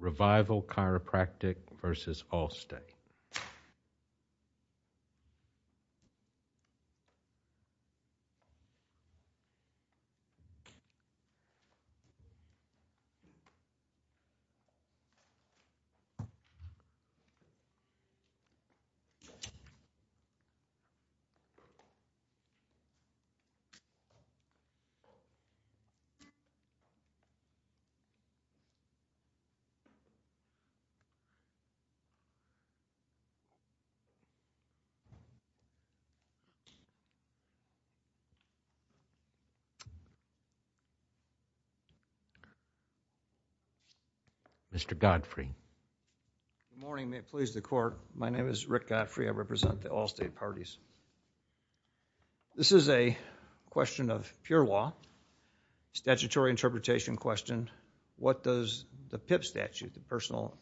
Revival Chiropractic v. Allstate. Good morning. May it please the Court, my name is Rick Godfrey. I represent the Allstate PIP statute, the Personal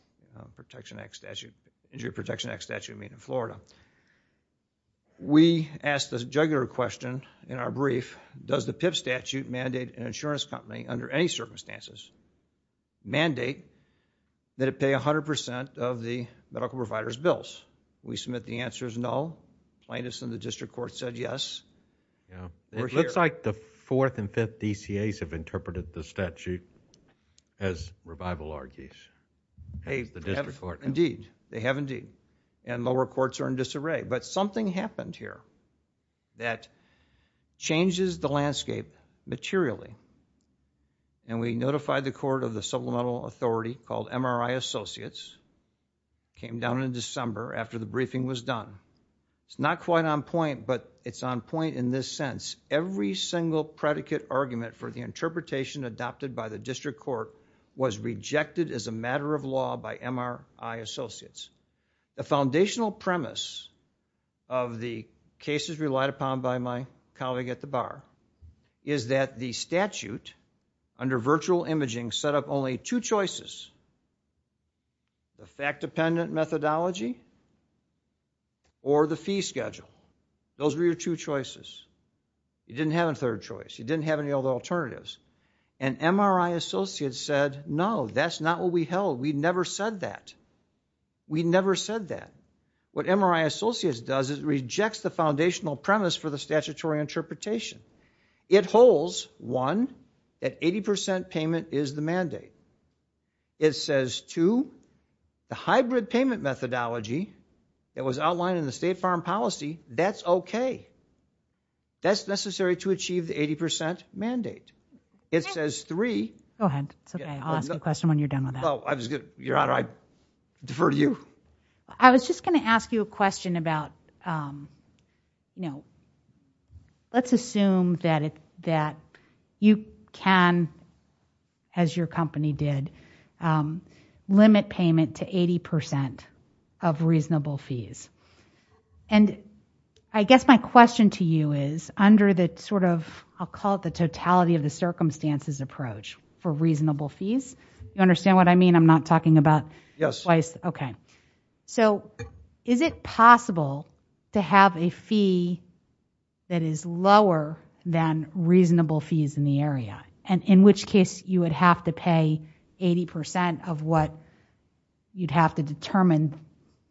Injury Protection Act statute made in Florida. We asked a juggler question in our brief, does the PIP statute mandate an insurance company under any circumstances mandate that it pay 100% of the medical provider's bills? We submit the answer is no. Plaintiffs in the district court said yes. It looks like the 4th and 5th DCAs have interpreted the statute as Revival argues, as the district court has. Indeed, they have indeed, and lower courts are in disarray, but something happened here that changes the landscape materially. We notified the court of the supplemental authority called MRI Associates, came down in December after the briefing was done. It's not quite on point, but it's on point in this sense. Every single predicate argument for the interpretation adopted by the district court was rejected as a matter of law by MRI Associates. The foundational premise of the cases relied upon by my colleague at the bar is that the statute, under virtual imaging, set up only two choices, the fact-dependent methodology or the fee schedule. Those were your two choices. You didn't have a third choice. You didn't have any other alternatives. And MRI Associates said, no, that's not what we held. We never said that. We never said that. What MRI Associates does is rejects the foundational premise for the statutory interpretation. It holds, one, that 80% payment is the mandate. It says, two, the hybrid payment methodology that was outlined in the state farm policy, that's okay. That's necessary to achieve the 80% mandate. It says, three, it's okay. I'll ask a question when you're done with that. Your Honor, I defer to you. I was just going to ask you a question about, you know, let's assume that you can, as your client, limit payment to 80% of reasonable fees. And I guess my question to you is, under the sort of, I'll call it the totality of the circumstances approach for reasonable fees. You understand what I mean? I'm not talking about twice. Yes. Okay. So is it possible to have a fee that is lower than reasonable fees in the area? In which case, you would have to pay 80% of what you'd have to determine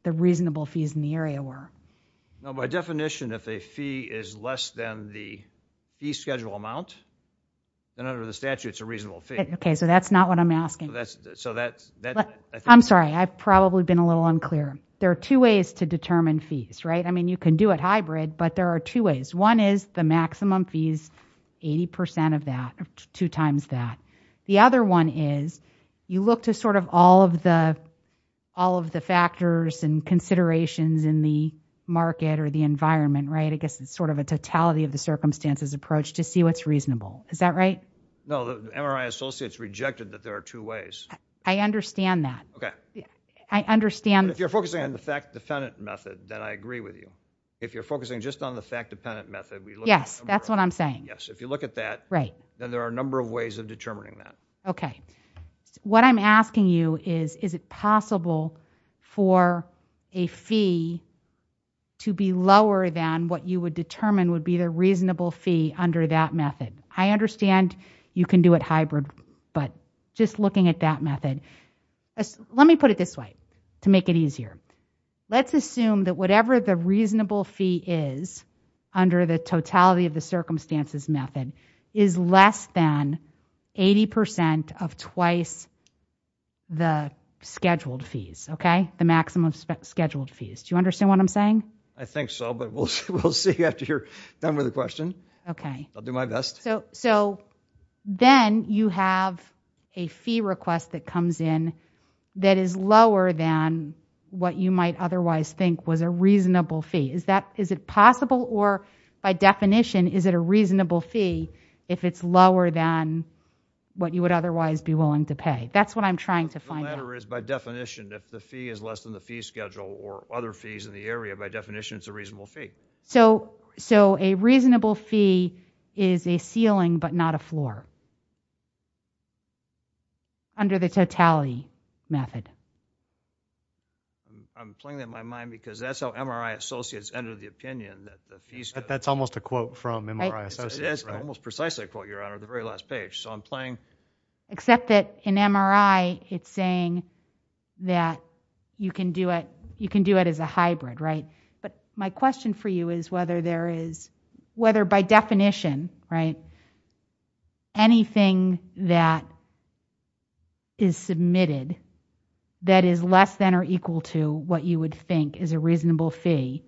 the reasonable fees in the area were? By definition, if a fee is less than the fee schedule amount, then under the statute, it's a reasonable fee. Okay. So that's not what I'm asking. So that's... I'm sorry. I've probably been a little unclear. There are two ways to determine fees, right? I mean, you can do it hybrid, but there are two ways. One is the maximum fees, 80% of that, two times that. The other one is, you look to sort of all of the factors and considerations in the market or the environment, right? I guess it's sort of a totality of the circumstances approach to see what's reasonable. Is that right? No, the MRI associates rejected that there are two ways. I understand that. Okay. Yeah. I understand... But if you're focusing on the fact-dependent method, then I agree with you. If you're focusing just on the fact-dependent method, we look at... Yes. That's what I'm saying. Yes. If you look at that... Right. Then there are a number of ways of determining that. Okay. What I'm asking you is, is it possible for a fee to be lower than what you would determine would be the reasonable fee under that method? I understand you can do it hybrid, but just looking at that method... Let me put it this way to make it easier. Let's assume that whatever the reasonable fee is under the totality of the circumstances method is less than 80% of twice the scheduled fees, okay? The maximum scheduled fees. Do you understand what I'm saying? I think so, but we'll see after you're done with the question. Okay. I'll do my best. So then you have a fee request that comes in that is lower than what you might otherwise think was a reasonable fee. Is it possible or, by definition, is it a reasonable fee if it's lower than what you would otherwise be willing to pay? That's what I'm trying to find out. The matter is, by definition, if the fee is less than the fee schedule or other fees in the area, by definition, it's a reasonable fee. So a reasonable fee is a ceiling but not a floor under the totality method? I'm playing that in my mind because that's how MRI associates enter the opinion that the fees... That's almost a quote from MRI associates, right? It is almost precisely a quote, Your Honor, at the very last page. So I'm playing... Except that in MRI, it's saying that you can do it as a hybrid, right? But my question for you is whether there is... Whether by definition, right, anything that is submitted that is less than or equal to what you would think is a reasonable fee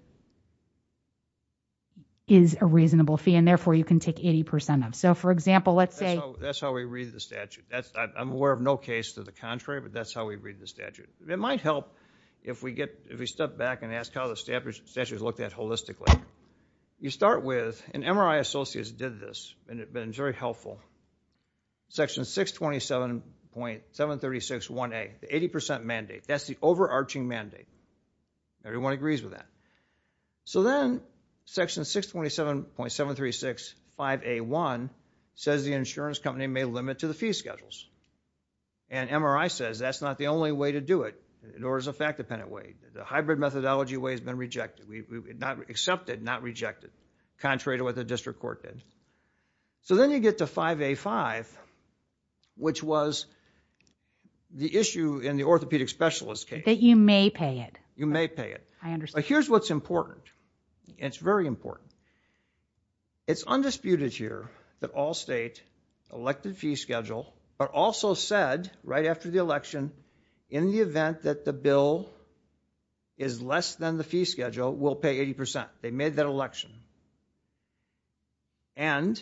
is a reasonable fee, and therefore, you can take 80% of. So for example, let's say... That's how we read the statute. I'm aware of no case to the contrary, but that's how we read the statute. It might help if we step back and ask how the statute is looked at holistically. You start with... And MRI associates did this, and it's been very helpful. Section 627.736.1A, the 80% mandate, that's the overarching mandate. Everyone agrees with that. So then, section 627.736.5A1 says the insurance company may limit to the fee schedules. And MRI says that's not the only way to do it, nor is it a fact-dependent way. The hybrid methodology way has been rejected, accepted, not rejected, contrary to what the district court did. So then you get to 5A5, which was the issue in the orthopedic specialist case. That you may pay it. You may pay it. I understand. But here's what's important, and it's very important. It's undisputed here that all state elected fee schedule are also said right after the election in the event that the bill is less than the fee schedule, will pay 80%. They made that election. And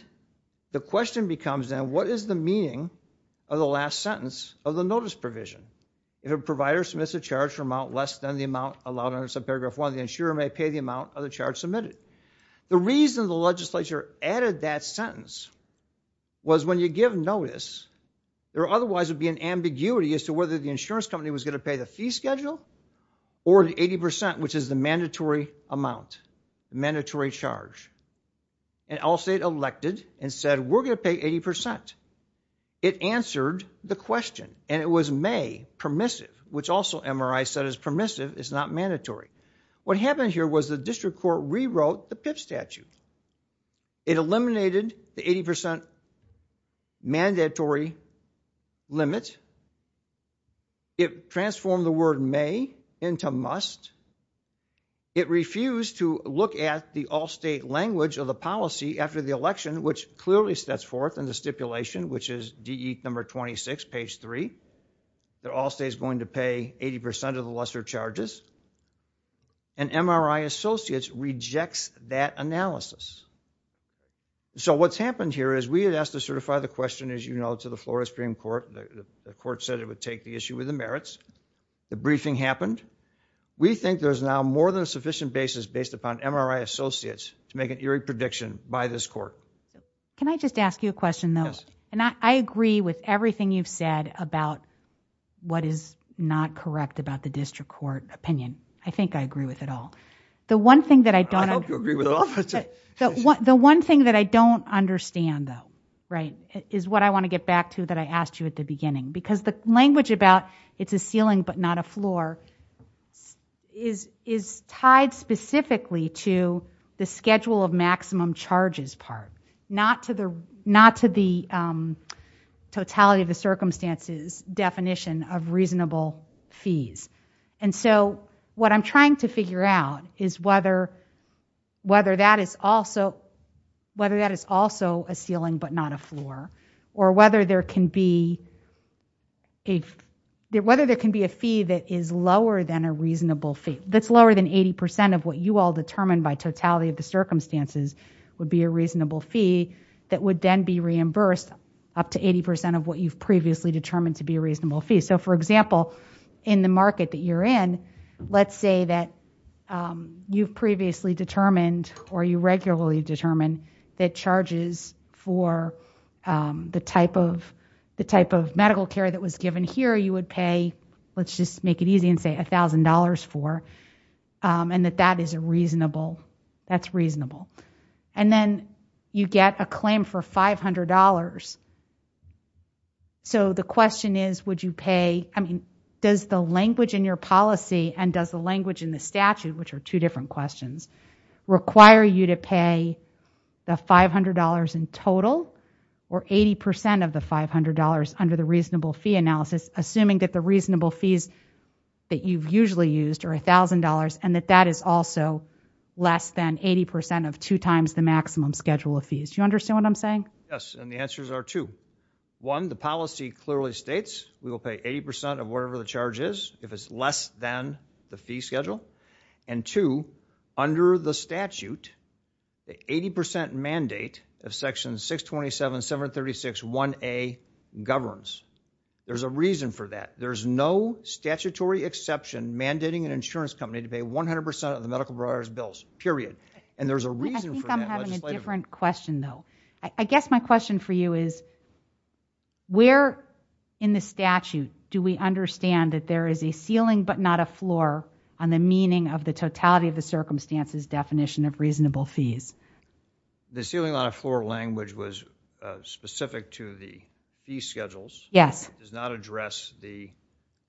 the question becomes then, what is the meaning of the last sentence of the notice provision? If a provider submits a charge amount less than the amount allowed under subparagraph one, the insurer may pay the amount of the charge submitted. The reason the legislature added that sentence was when you give notice, there otherwise would be an ambiguity as to whether the insurance company was going to pay the fee schedule or the 80%, which is the mandatory amount, the mandatory charge. And all state elected and said, we're going to pay 80%. It answered the question, and it was may, permissive, which also MRI said is permissive, is not mandatory. What happened here was the district court rewrote the PIP statute. It eliminated the 80% mandatory limit. It transformed the word may into must. It refused to look at the all state language of the policy after the election, which clearly sets forth in the stipulation, which is DE number 26, page three, that all state is going to pay 80% of the lesser charges, and MRI associates rejects that analysis. So what's happened here is we had asked to certify the question, as you know, to the Florida Supreme Court. The court said it would take the issue with the merits. The briefing happened. We think there's now more than a sufficient basis based upon MRI associates to make an eerie prediction by this court. Can I just ask you a question, though? I agree with everything you've said about what is not correct about the district court opinion. I think I agree with it all. The one thing that I don't... I hope you agree with it all. The one thing that I don't understand, though, is what I want to get back to that I asked you at the beginning, because the language about it's a ceiling but not a floor is tied specifically to the schedule of maximum charges part, not to the totality of the circumstances definition of reasonable fees. And so what I'm trying to figure out is whether that is also a ceiling but not a floor, or of what you all determined by totality of the circumstances would be a reasonable fee that would then be reimbursed up to 80 percent of what you've previously determined to be a reasonable fee. So, for example, in the market that you're in, let's say that you've previously determined or you regularly determine that charges for the type of medical care that was given here you would pay, let's just make it easy and say $1,000 for, and that that is a reasonable... that's reasonable. And then you get a claim for $500. So the question is, would you pay... I mean, does the language in your policy and does the language in the statute, which are two different questions, require you to pay the $500 in total or 80 percent of the $500 under the reasonable fee analysis, assuming that the reasonable fees that you've usually used are $1,000 and that that is also less than 80 percent of two times the maximum schedule of fees? Do you understand what I'm saying? Yes. And the answers are two. One, the policy clearly states we will pay 80 percent of whatever the charge is if it's less than the fee schedule. And two, under the statute, the 80 percent mandate of Section 627.736.1A governs. There's a reason for that. There's no statutory exception mandating an insurance company to pay 100 percent of the medical providers' bills, period. And there's a reason for that. I think I'm having a different question, though. I guess my question for you is, where in the statute do we understand that there is a ceiling but not a floor on the meaning of the totality of the circumstances definition of reasonable fees? The ceiling on a floor language was specific to the fee schedules. Yes. It does not address the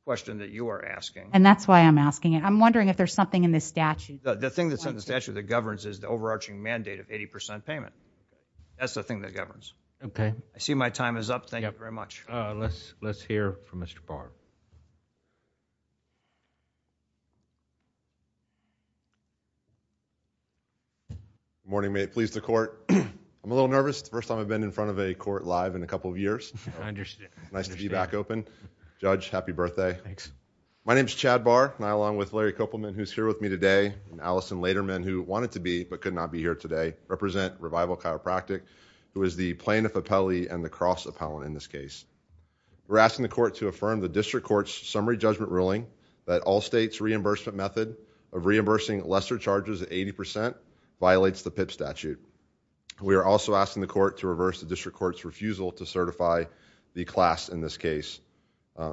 question that you are asking. And that's why I'm asking it. I'm wondering if there's something in the statute. The thing that's in the statute that governs is the overarching mandate of 80 percent payment. That's the thing that governs. Okay. I see my time is up. Thank you very much. Let's hear from Mr. Barr. Good morning. May it please the Court. I'm a little nervous. It's the first time I've been in front of a court live in a couple of years. I understand. Nice to be back open. Judge, happy birthday. Thanks. My name is Chad Barr. I, along with Larry Kopelman, who's here with me today, and Allison Lederman, who wanted to be but could not be here today, represent Revival Chiropractic, who is the plaintiff appellee and the cross appellant in this case. We're asking the court to affirm the district court's summary judgment ruling that all states' reimbursement method of reimbursing lesser charges at 80 percent violates the PIP statute. We are also asking the court to reverse the district court's refusal to certify the class in this case,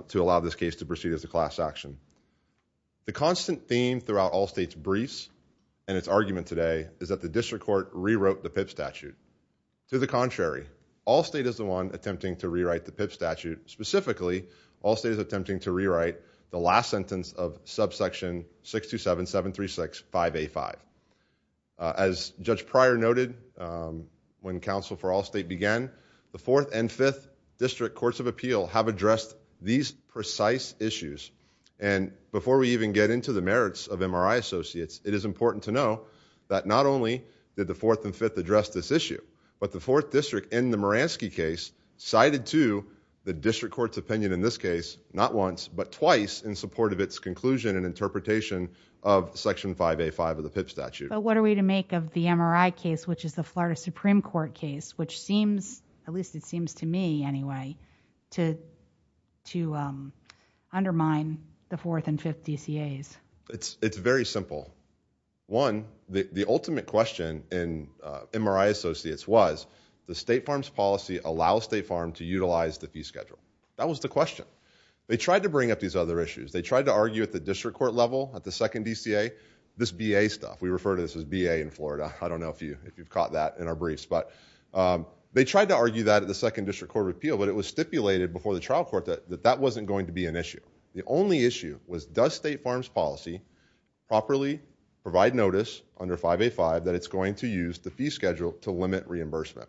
to allow this case to proceed as a class action. The constant theme throughout all states' briefs and its argument today is that the district court rewrote the PIP statute. To the contrary, all state is the one attempting to rewrite the PIP statute, specifically, all state is attempting to rewrite the last sentence of subsection 6277365A5. As Judge Pryor noted, when counsel for all state began, the fourth and fifth district courts of appeal have addressed these precise issues. And before we even get into the merits of MRI associates, it is important to know that not only did the fourth and fifth address this issue, but the fourth district in the Moransky case cited to the district court's opinion in this case, not once, but twice in support of its conclusion and interpretation of section 5A5 of the PIP statute. But what are we to make of the MRI case, which is the Florida Supreme Court case, which seems, at least it seems to me anyway, to undermine the fourth and fifth DCAs? It's very simple. One, the ultimate question in MRI associates was, the state farms policy allows state farm to utilize the fee schedule. That was the question. They tried to bring up these other issues. They tried to argue at the district court level, at the second DCA, this BA stuff. We refer to this as BA in Florida. I don't know if you've caught that in our briefs, but they tried to argue that at the second district court appeal, but it was stipulated before the trial court that that wasn't going to be an issue. The only issue was, does state farms policy properly provide notice under 5A5 that it's going to use the fee schedule to limit reimbursement?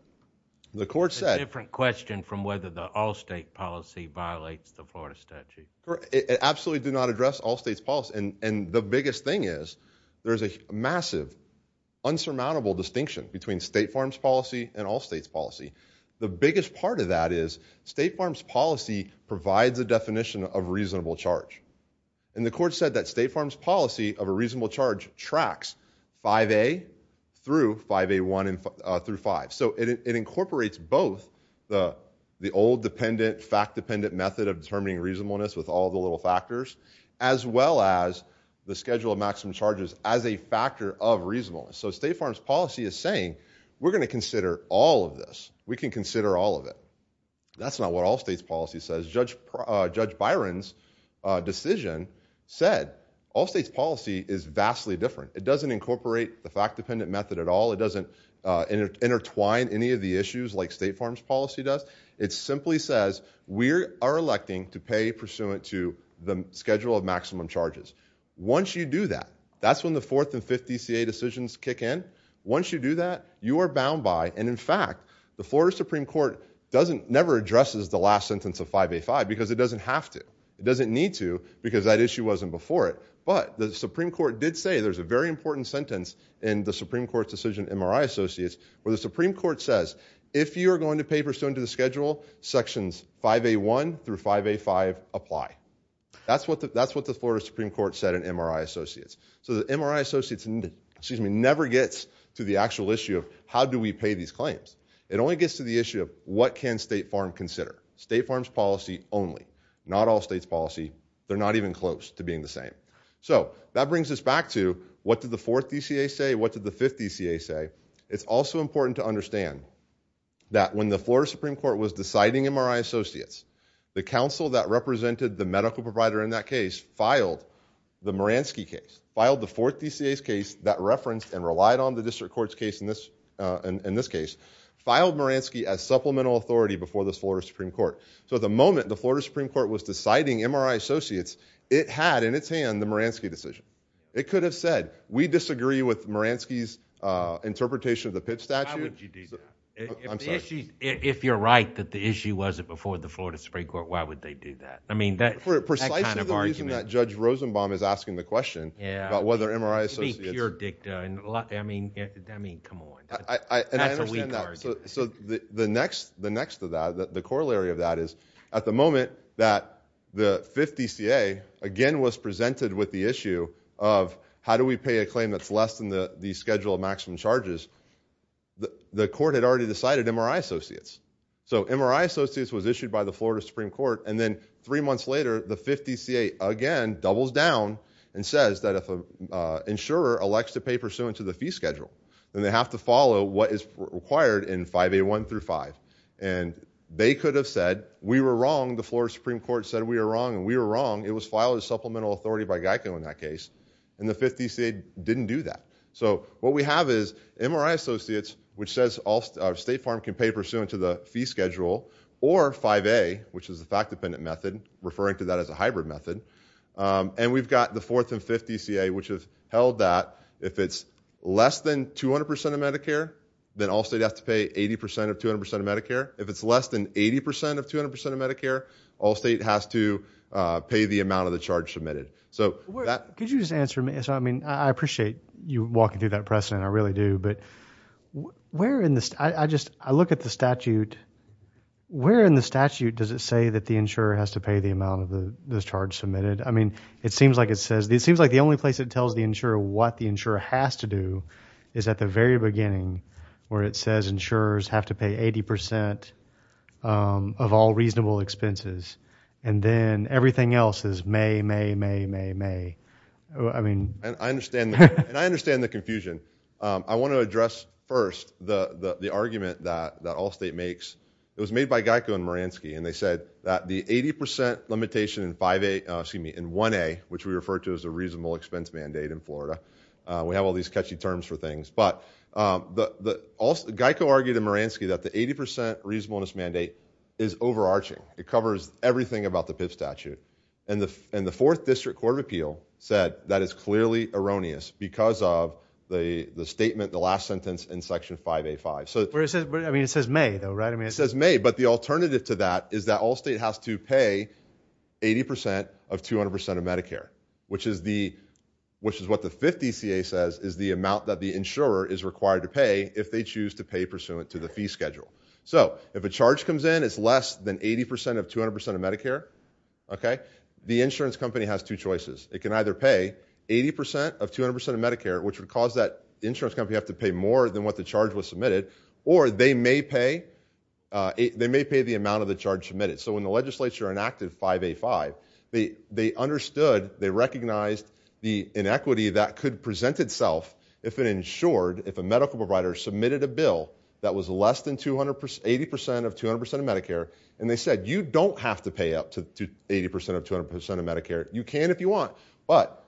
The court said- It's a different question from whether the all state policy violates the Florida statute. It absolutely did not address all states policy. And the biggest thing is, there's a massive, insurmountable distinction between state farms policy and all states policy. The biggest part of that is, state farms policy provides a definition of reasonable charge. And the court said that state farms policy of a reasonable charge tracks 5A through 5A1 through 5. So it incorporates both the old, fact-dependent method of determining reasonableness with all the little factors, as well as the schedule of maximum charges as a factor of reasonableness. So state farms policy is saying, we're going to consider all of this. We can consider all of it. That's not what all states policy says. Judge Byron's decision said, all states policy is vastly different. It doesn't incorporate the fact-dependent method at all. It doesn't intertwine any of the issues like state farms policy does. It simply says, we are electing to pay pursuant to the schedule of maximum charges. Once you do that, that's when the 4th and 5th DCA decisions kick in. Once you do that, you are bound by, and in fact, the Florida Supreme Court never addresses the last sentence of 5A5, because it doesn't have to. It doesn't need to, because that issue wasn't before it. But the Supreme Court did say, there's a very important sentence in the Supreme Court's decision, MRI Associates, where the Supreme Court says, if you are going to pay pursuant to the schedule, sections 5A1 through 5A5 apply. That's what the Florida Supreme Court said in MRI Associates. So the MRI Associates never gets to the actual issue of, how do we pay these claims? It only gets to the issue of, what can State Farm consider? State Farm's policy only. Not all states policy. They're not even close to being the same. So that brings us back to, what did the 4th DCA say? What did the 5th DCA say? It's also important to understand that when the Florida Supreme Court was deciding MRI Associates, the counsel that represented the medical provider in that case filed the Moransky case, filed the 4th DCA's case that referenced and relied on the district court's case in this case, filed Moransky as supplemental authority before the Florida Supreme Court. So at the moment, the Florida Supreme Court was deciding MRI Associates, it had in its hand the Moransky decision. It could have said, we disagree with Moransky's interpretation of the Pitt statute. Why would you do that? If you're right that the issue wasn't before the Florida Supreme Court, why would they do that? I mean, that kind of argument... For precisely the reason that Judge Rosenbaum is asking the question about whether MRI Associates... It would be pure dicta. I mean, come on. That's a weak argument. And I understand that. So the next to that, the corollary of that is, at the moment that the 5th DCA again was presented with the issue of, how do we pay a claim that's less than the schedule of the case, the court had already decided MRI Associates. So MRI Associates was issued by the Florida Supreme Court, and then three months later, the 5th DCA again doubles down and says that if an insurer elects to pay pursuant to the fee schedule, then they have to follow what is required in 5A1 through 5. And they could have said, we were wrong, the Florida Supreme Court said we were wrong, and we were wrong. It was filed as supplemental authority by Geico in that case, and the 5th DCA didn't do that. So what we have is MRI Associates, which says State Farm can pay pursuant to the fee schedule, or 5A, which is the fact-dependent method, referring to that as a hybrid method. And we've got the 4th and 5th DCA, which has held that if it's less than 200 percent of Medicare, then all states have to pay 80 percent of 200 percent of Medicare. If it's less than 80 percent of 200 percent of Medicare, all states have to pay the amount of the charge submitted. Could you just answer me, I mean, I appreciate you walking through that precedent, I really do, but where in the, I just, I look at the statute, where in the statute does it say that the insurer has to pay the amount of the charge submitted? I mean, it seems like it says, it seems like the only place it tells the insurer what the insurer has to do is at the very beginning, where it says insurers have to pay 80 percent of all reasonable expenses, and then everything else is may, may, may, may, may, I mean. I understand, and I understand the confusion. I want to address first the argument that Allstate makes, it was made by Geico and Moransky, and they said that the 80 percent limitation in 5A, excuse me, in 1A, which we refer to as the reasonable expense mandate in Florida, we have all these catchy terms for things, but Geico argued in Moransky that the 80 percent reasonableness mandate is overarching. It covers everything about the PIV statute, and the 4th District Court of Appeal said that is clearly erroneous because of the statement, the last sentence in Section 5A.5. Where it says, I mean, it says may, though, right? I mean, it says may, but the alternative to that is that Allstate has to pay 80 percent of 200 percent of Medicare, which is the, which is what the 5th DCA says is the amount that the insurer is required to pay if they choose to pay pursuant to the fee schedule. So, if a charge comes in, it's less than 80 percent of 200 percent of Medicare, okay? The insurance company has two choices. It can either pay 80 percent of 200 percent of Medicare, which would cause that insurance company to have to pay more than what the charge was submitted, or they may pay, they may pay the amount of the charge submitted. So, when the legislature enacted 5A.5, they understood, they recognized the inequity that could present itself if an insured, if a medical provider submitted a bill that was less than 200, 80 percent of 200 percent of Medicare, and they said, you don't have to pay up to 80 percent of 200 percent of Medicare. You can if you want, but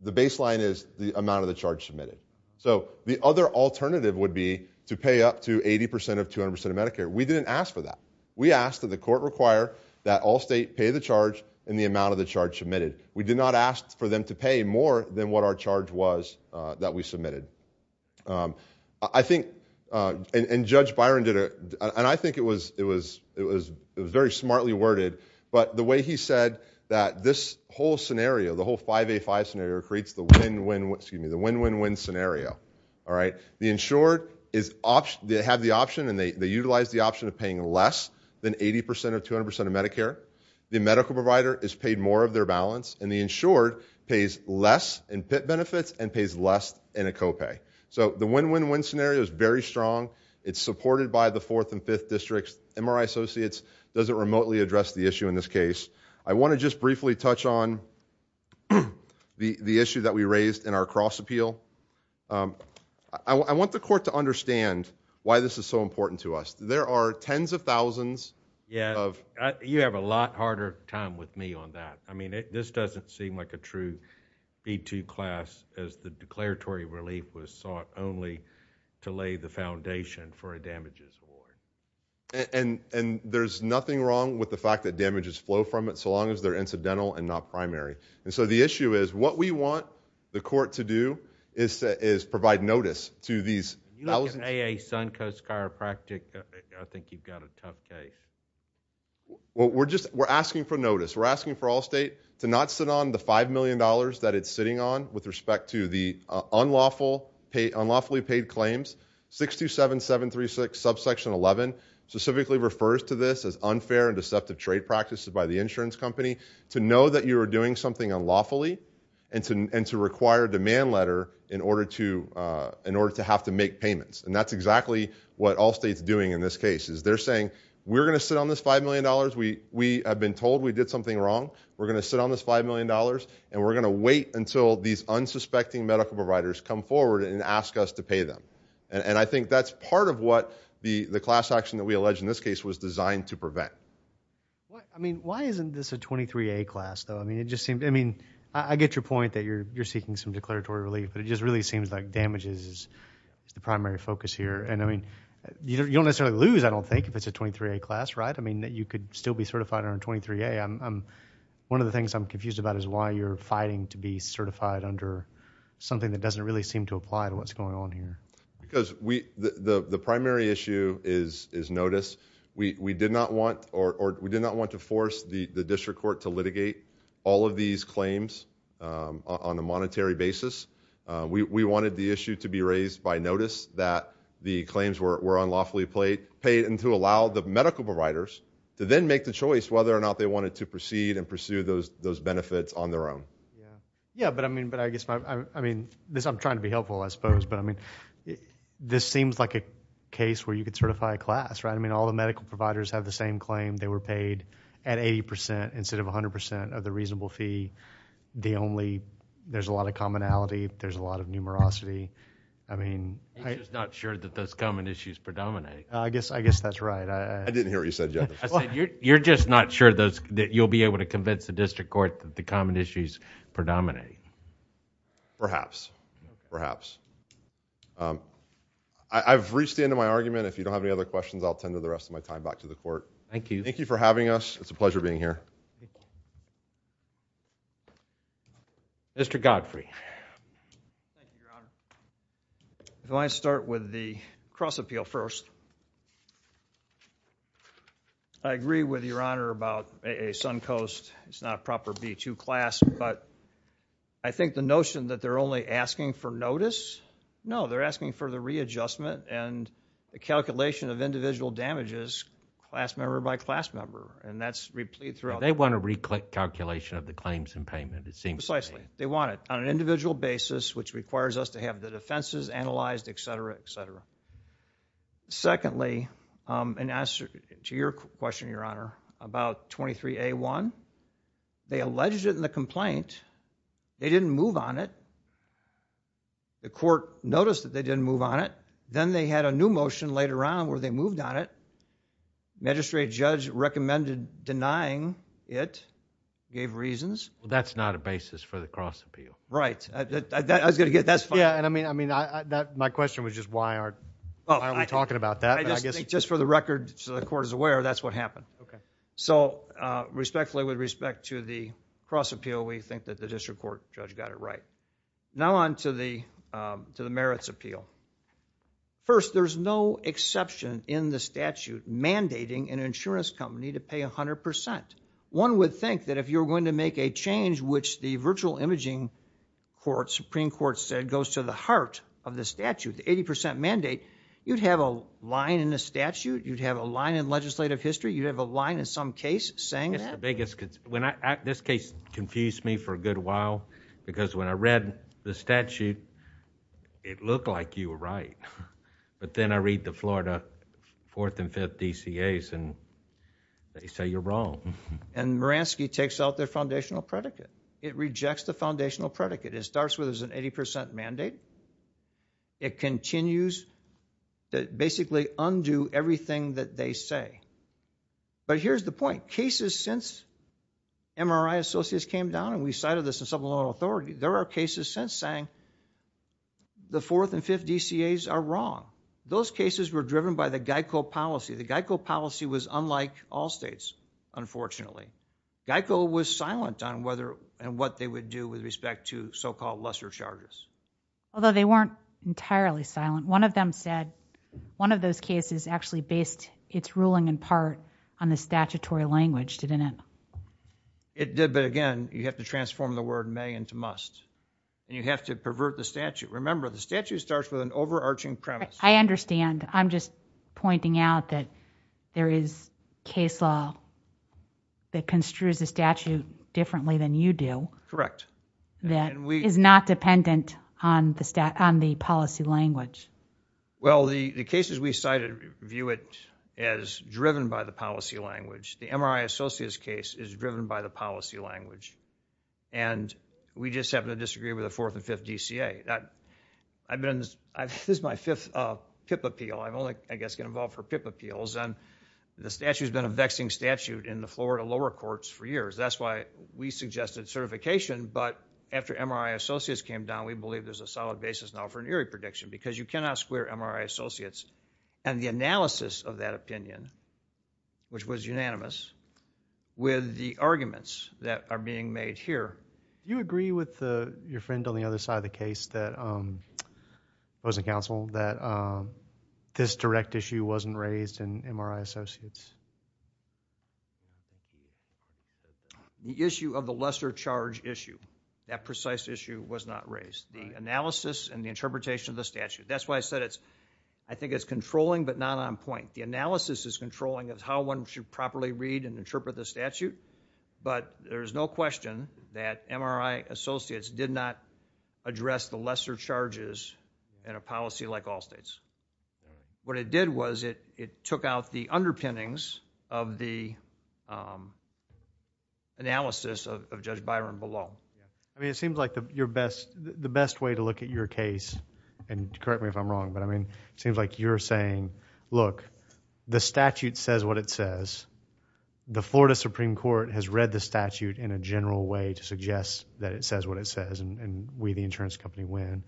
the baseline is the amount of the charge submitted. So, the other alternative would be to pay up to 80 percent of 200 percent of Medicare. We didn't ask for that. We asked that the court require that all state pay the charge and the amount of the charge submitted. We did not ask for them to pay more than what our charge was that we submitted. I think, and Judge Byron did a, and I think it was, it was, it was very smartly worded, but the way he said that this whole scenario, the whole 5A.5 scenario creates the win, win, excuse me, the win, win, win scenario, all right? The insured is, they have the option and they utilize the option of paying less than 80 percent of 200 percent of Medicare. The medical provider is paid more of their balance and the insured pays less in PIP benefits and pays less in a co-pay. So, the win, win, win scenario is very strong. It's supported by the 4th and 5th districts. MRI Associates doesn't remotely address the issue in this case. I want to just briefly touch on the issue that we raised in our cross appeal. I want the court to understand why this is so important to us. There are tens of thousands of. Yeah, you have a lot harder time with me on that. I mean, this doesn't seem like a true B2 class as the declaratory relief was sought only to lay the foundation for a damages award. And there's nothing wrong with the fact that damages flow from it so long as they're incidental and not primary. And so, the issue is what we want the court to do is provide notice to these. That wasn't. You look at AA Suncoast Chiropractic, I think you've got a tough case. Well, we're just, we're asking for notice. We're asking for Allstate to not sit on the $5 million that it's sitting on with respect to the unlawfully paid claims. 627736 subsection 11 specifically refers to this as unfair and deceptive trade practices by the insurance company. To know that you are doing something unlawfully and to require a demand letter in order to, in order to have to make payments. And that's exactly what Allstate's doing in this case is they're saying, we're going to sit on this $5 million. We have been told we did something wrong. We're going to sit on this $5 million and we're going to wait until these unsuspecting medical providers come forward and ask us to pay them. And I think that's part of what the class action that we allege in this case was designed to prevent. I mean, why isn't this a 23A class though? I mean, it just seems, I mean, I get your point that you're seeking some declaratory relief, but it just really seems like damages is the primary focus here. And I mean, you don't necessarily lose, I don't think, if it's a 23A class, right? I mean, you could still be certified under 23A. I'm, one of the things I'm confused about is why you're fighting to be certified under something that doesn't really seem to apply to what's going on here. Because we, the primary issue is notice. We did not want, or we did not want to force the district court to litigate all of these claims on a monetary basis. We wanted the issue to be raised by notice that the claims were unlawfully paid and to allow the medical providers to then make the choice whether or not they wanted to proceed and pursue those benefits on their own. Yeah, but I mean, but I guess my, I mean, this, I'm trying to be helpful, I suppose, but I mean, this seems like a case where you could certify a class, right? I mean, all the medical providers have the same claim. They were paid at 80% instead of 100% of the reasonable fee. The only, there's a lot of commonality. There's a lot of numerosity. I mean, I. You're just not sure that those common issues predominate. I guess, I guess that's right. I. I didn't hear what you said yet. I said, you're, you're just not sure those, that you'll be able to convince the district court Perhaps. Perhaps. I've reached the end of my argument. If you don't have any other questions, I'll tend to the rest of my time back to the court. Thank you. Thank you for having us. It's a pleasure being here. Mr. Godfrey. Thank you, Your Honor. Do I start with the cross appeal first? I agree with Your Honor about AA Suncoast. It's not a proper B2 class, but I think the notion that they're only asking for notice. No, they're asking for the readjustment and the calculation of individual damages, class member by class member. And that's replete throughout. They want to recalculation of the claims and payment. It seems precisely they want it on an individual basis, which requires us to have the defenses analyzed, et cetera, et cetera. Secondly, an answer to your question, Your Honor, about 23A1. They alleged it in the complaint. They didn't move on it. The court noticed that they didn't move on it. Then they had a new motion later on where they moved on it. Magistrate judge recommended denying it, gave reasons. Well, that's not a basis for the cross appeal. Right. I was going to get that's fine. Yeah. And I mean, my question was just why aren't we talking about that? Just for the record, so the court is aware, that's what happened. Okay. So respectfully, with respect to the cross appeal, we think that the district court judge got it right. Now on to the merits appeal. First, there's no exception in the statute mandating an insurance company to pay 100%. One would think that if you're going to make a change, which the virtual imaging court, Supreme Court said, goes to the heart of the statute, the 80% mandate, you'd have a line in the statute. You'd have a line in legislative history. You'd have a line in some case saying that. It's the biggest, this case confused me for a good while, because when I read the statute, it looked like you were right. But then I read the Florida 4th and 5th DCAs, and they say you're wrong. And Moransky takes out their foundational predicate. It rejects the foundational predicate. It starts with an 80% mandate. It continues to basically undo everything that they say. But here's the point. Cases since MRI Associates came down, we cited this in supplemental authority, there are cases since saying the 4th and 5th DCAs are wrong. Those cases were driven by the GEICO policy. The GEICO policy was unlike all states, unfortunately. GEICO was silent on whether and what they would do with respect to so-called lesser charges. Although they weren't entirely silent. One of them said one of those cases actually based its ruling in part on the statutory language, didn't it? It did, but again, you have to transform the word may into must. And you have to pervert the statute. Remember, the statute starts with an overarching premise. I understand. I'm just pointing out that there is case law that construes the statute differently than you do. Correct. That is not dependent on the policy language. Well, the cases we cited view it as driven by the policy language. The MRI Associates case is driven by the policy language. And we just happen to disagree with the 4th and 5th DCA. This is my fifth PIP appeal. I'm only, I guess, get involved for PIP appeals. And the statute has been a vexing statute in the Florida lower courts for years. That's why we suggested certification. But after MRI Associates came down, we believe there's a solid basis now for an ERIE prediction because you cannot square MRI Associates. And the analysis of that opinion, which was unanimous, with the arguments that are being made here. Do you agree with your friend on the other side of the case that was in counsel that this direct issue wasn't raised in MRI Associates? The issue of the lesser charge issue, that precise issue was not raised. The analysis and the interpretation of the statute. That's why I said it's, I think it's controlling, but not on point. The analysis is controlling of how one should properly read and interpret the statute. But there's no question that MRI Associates did not address the lesser charges in a policy like all states. What it did was it took out the underpinnings of the analysis of Judge Byron below. Yeah. I mean, it seems like the best way to look at your case and correct me if I'm wrong, but I mean, it seems like you're saying, look, the statute says what it says. The Florida Supreme Court has read the statute in a general way to suggest that it says what it says and we, the insurance company, win.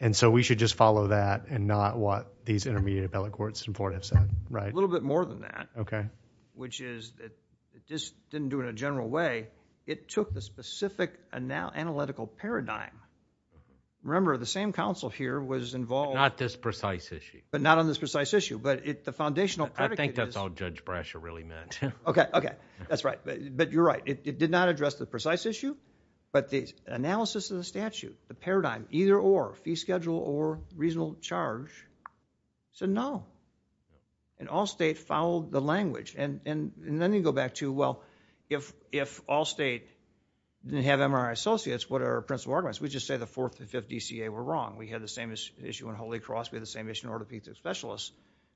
And so we should just follow that and not what these intermediate appellate courts in Florida have said, right? A little bit more than that. Okay. Which is that it just didn't do it in a general way. It took the specific analytical paradigm. Remember the same counsel here was involved. Not this precise issue. But not on this precise issue, but the foundational predicate is. I think that's all Judge Brasher really meant. Okay. Okay. That's right. But you're right. It did not address the precise issue, but the analysis of the statute, the paradigm either or fee schedule or reasonable charge said no. And all state followed the language. And then you go back to, well, if all state didn't have MRI Associates, what are our principle arguments? We just say the 4th and 5th DCA were wrong. We had the same issue in Holy Cross. We had the same issue in Orthopedic Specialists,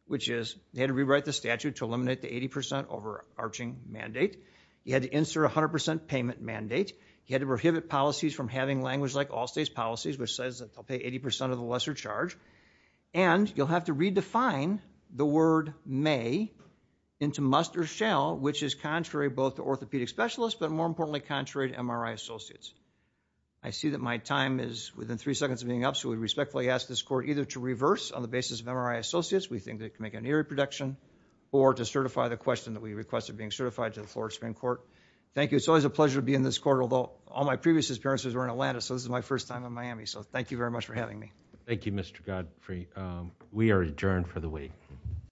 which is they had to rewrite the statute to eliminate the 80% overarching mandate. You had to insert 100% payment mandate. You had to prohibit policies from having language like all state's policies, which says that they'll pay 80% of the lesser charge. And you'll have to redefine the word may into must or shall, which is contrary both to Orthopedic Specialists, but more importantly, contrary to MRI Associates. I see that my time is within three seconds of being up. So we respectfully ask this court either to reverse on the basis of MRI Associates. We think that can make an eerie prediction or to certify the question that we requested being certified to the Florida Supreme Court. Thank you. It's always a pleasure to be in this court, although all my previous experiences were in Atlanta. So this is my first time in Miami. So thank you very much for having me. Thank you, Mr. Godfrey. We are adjourned for the week.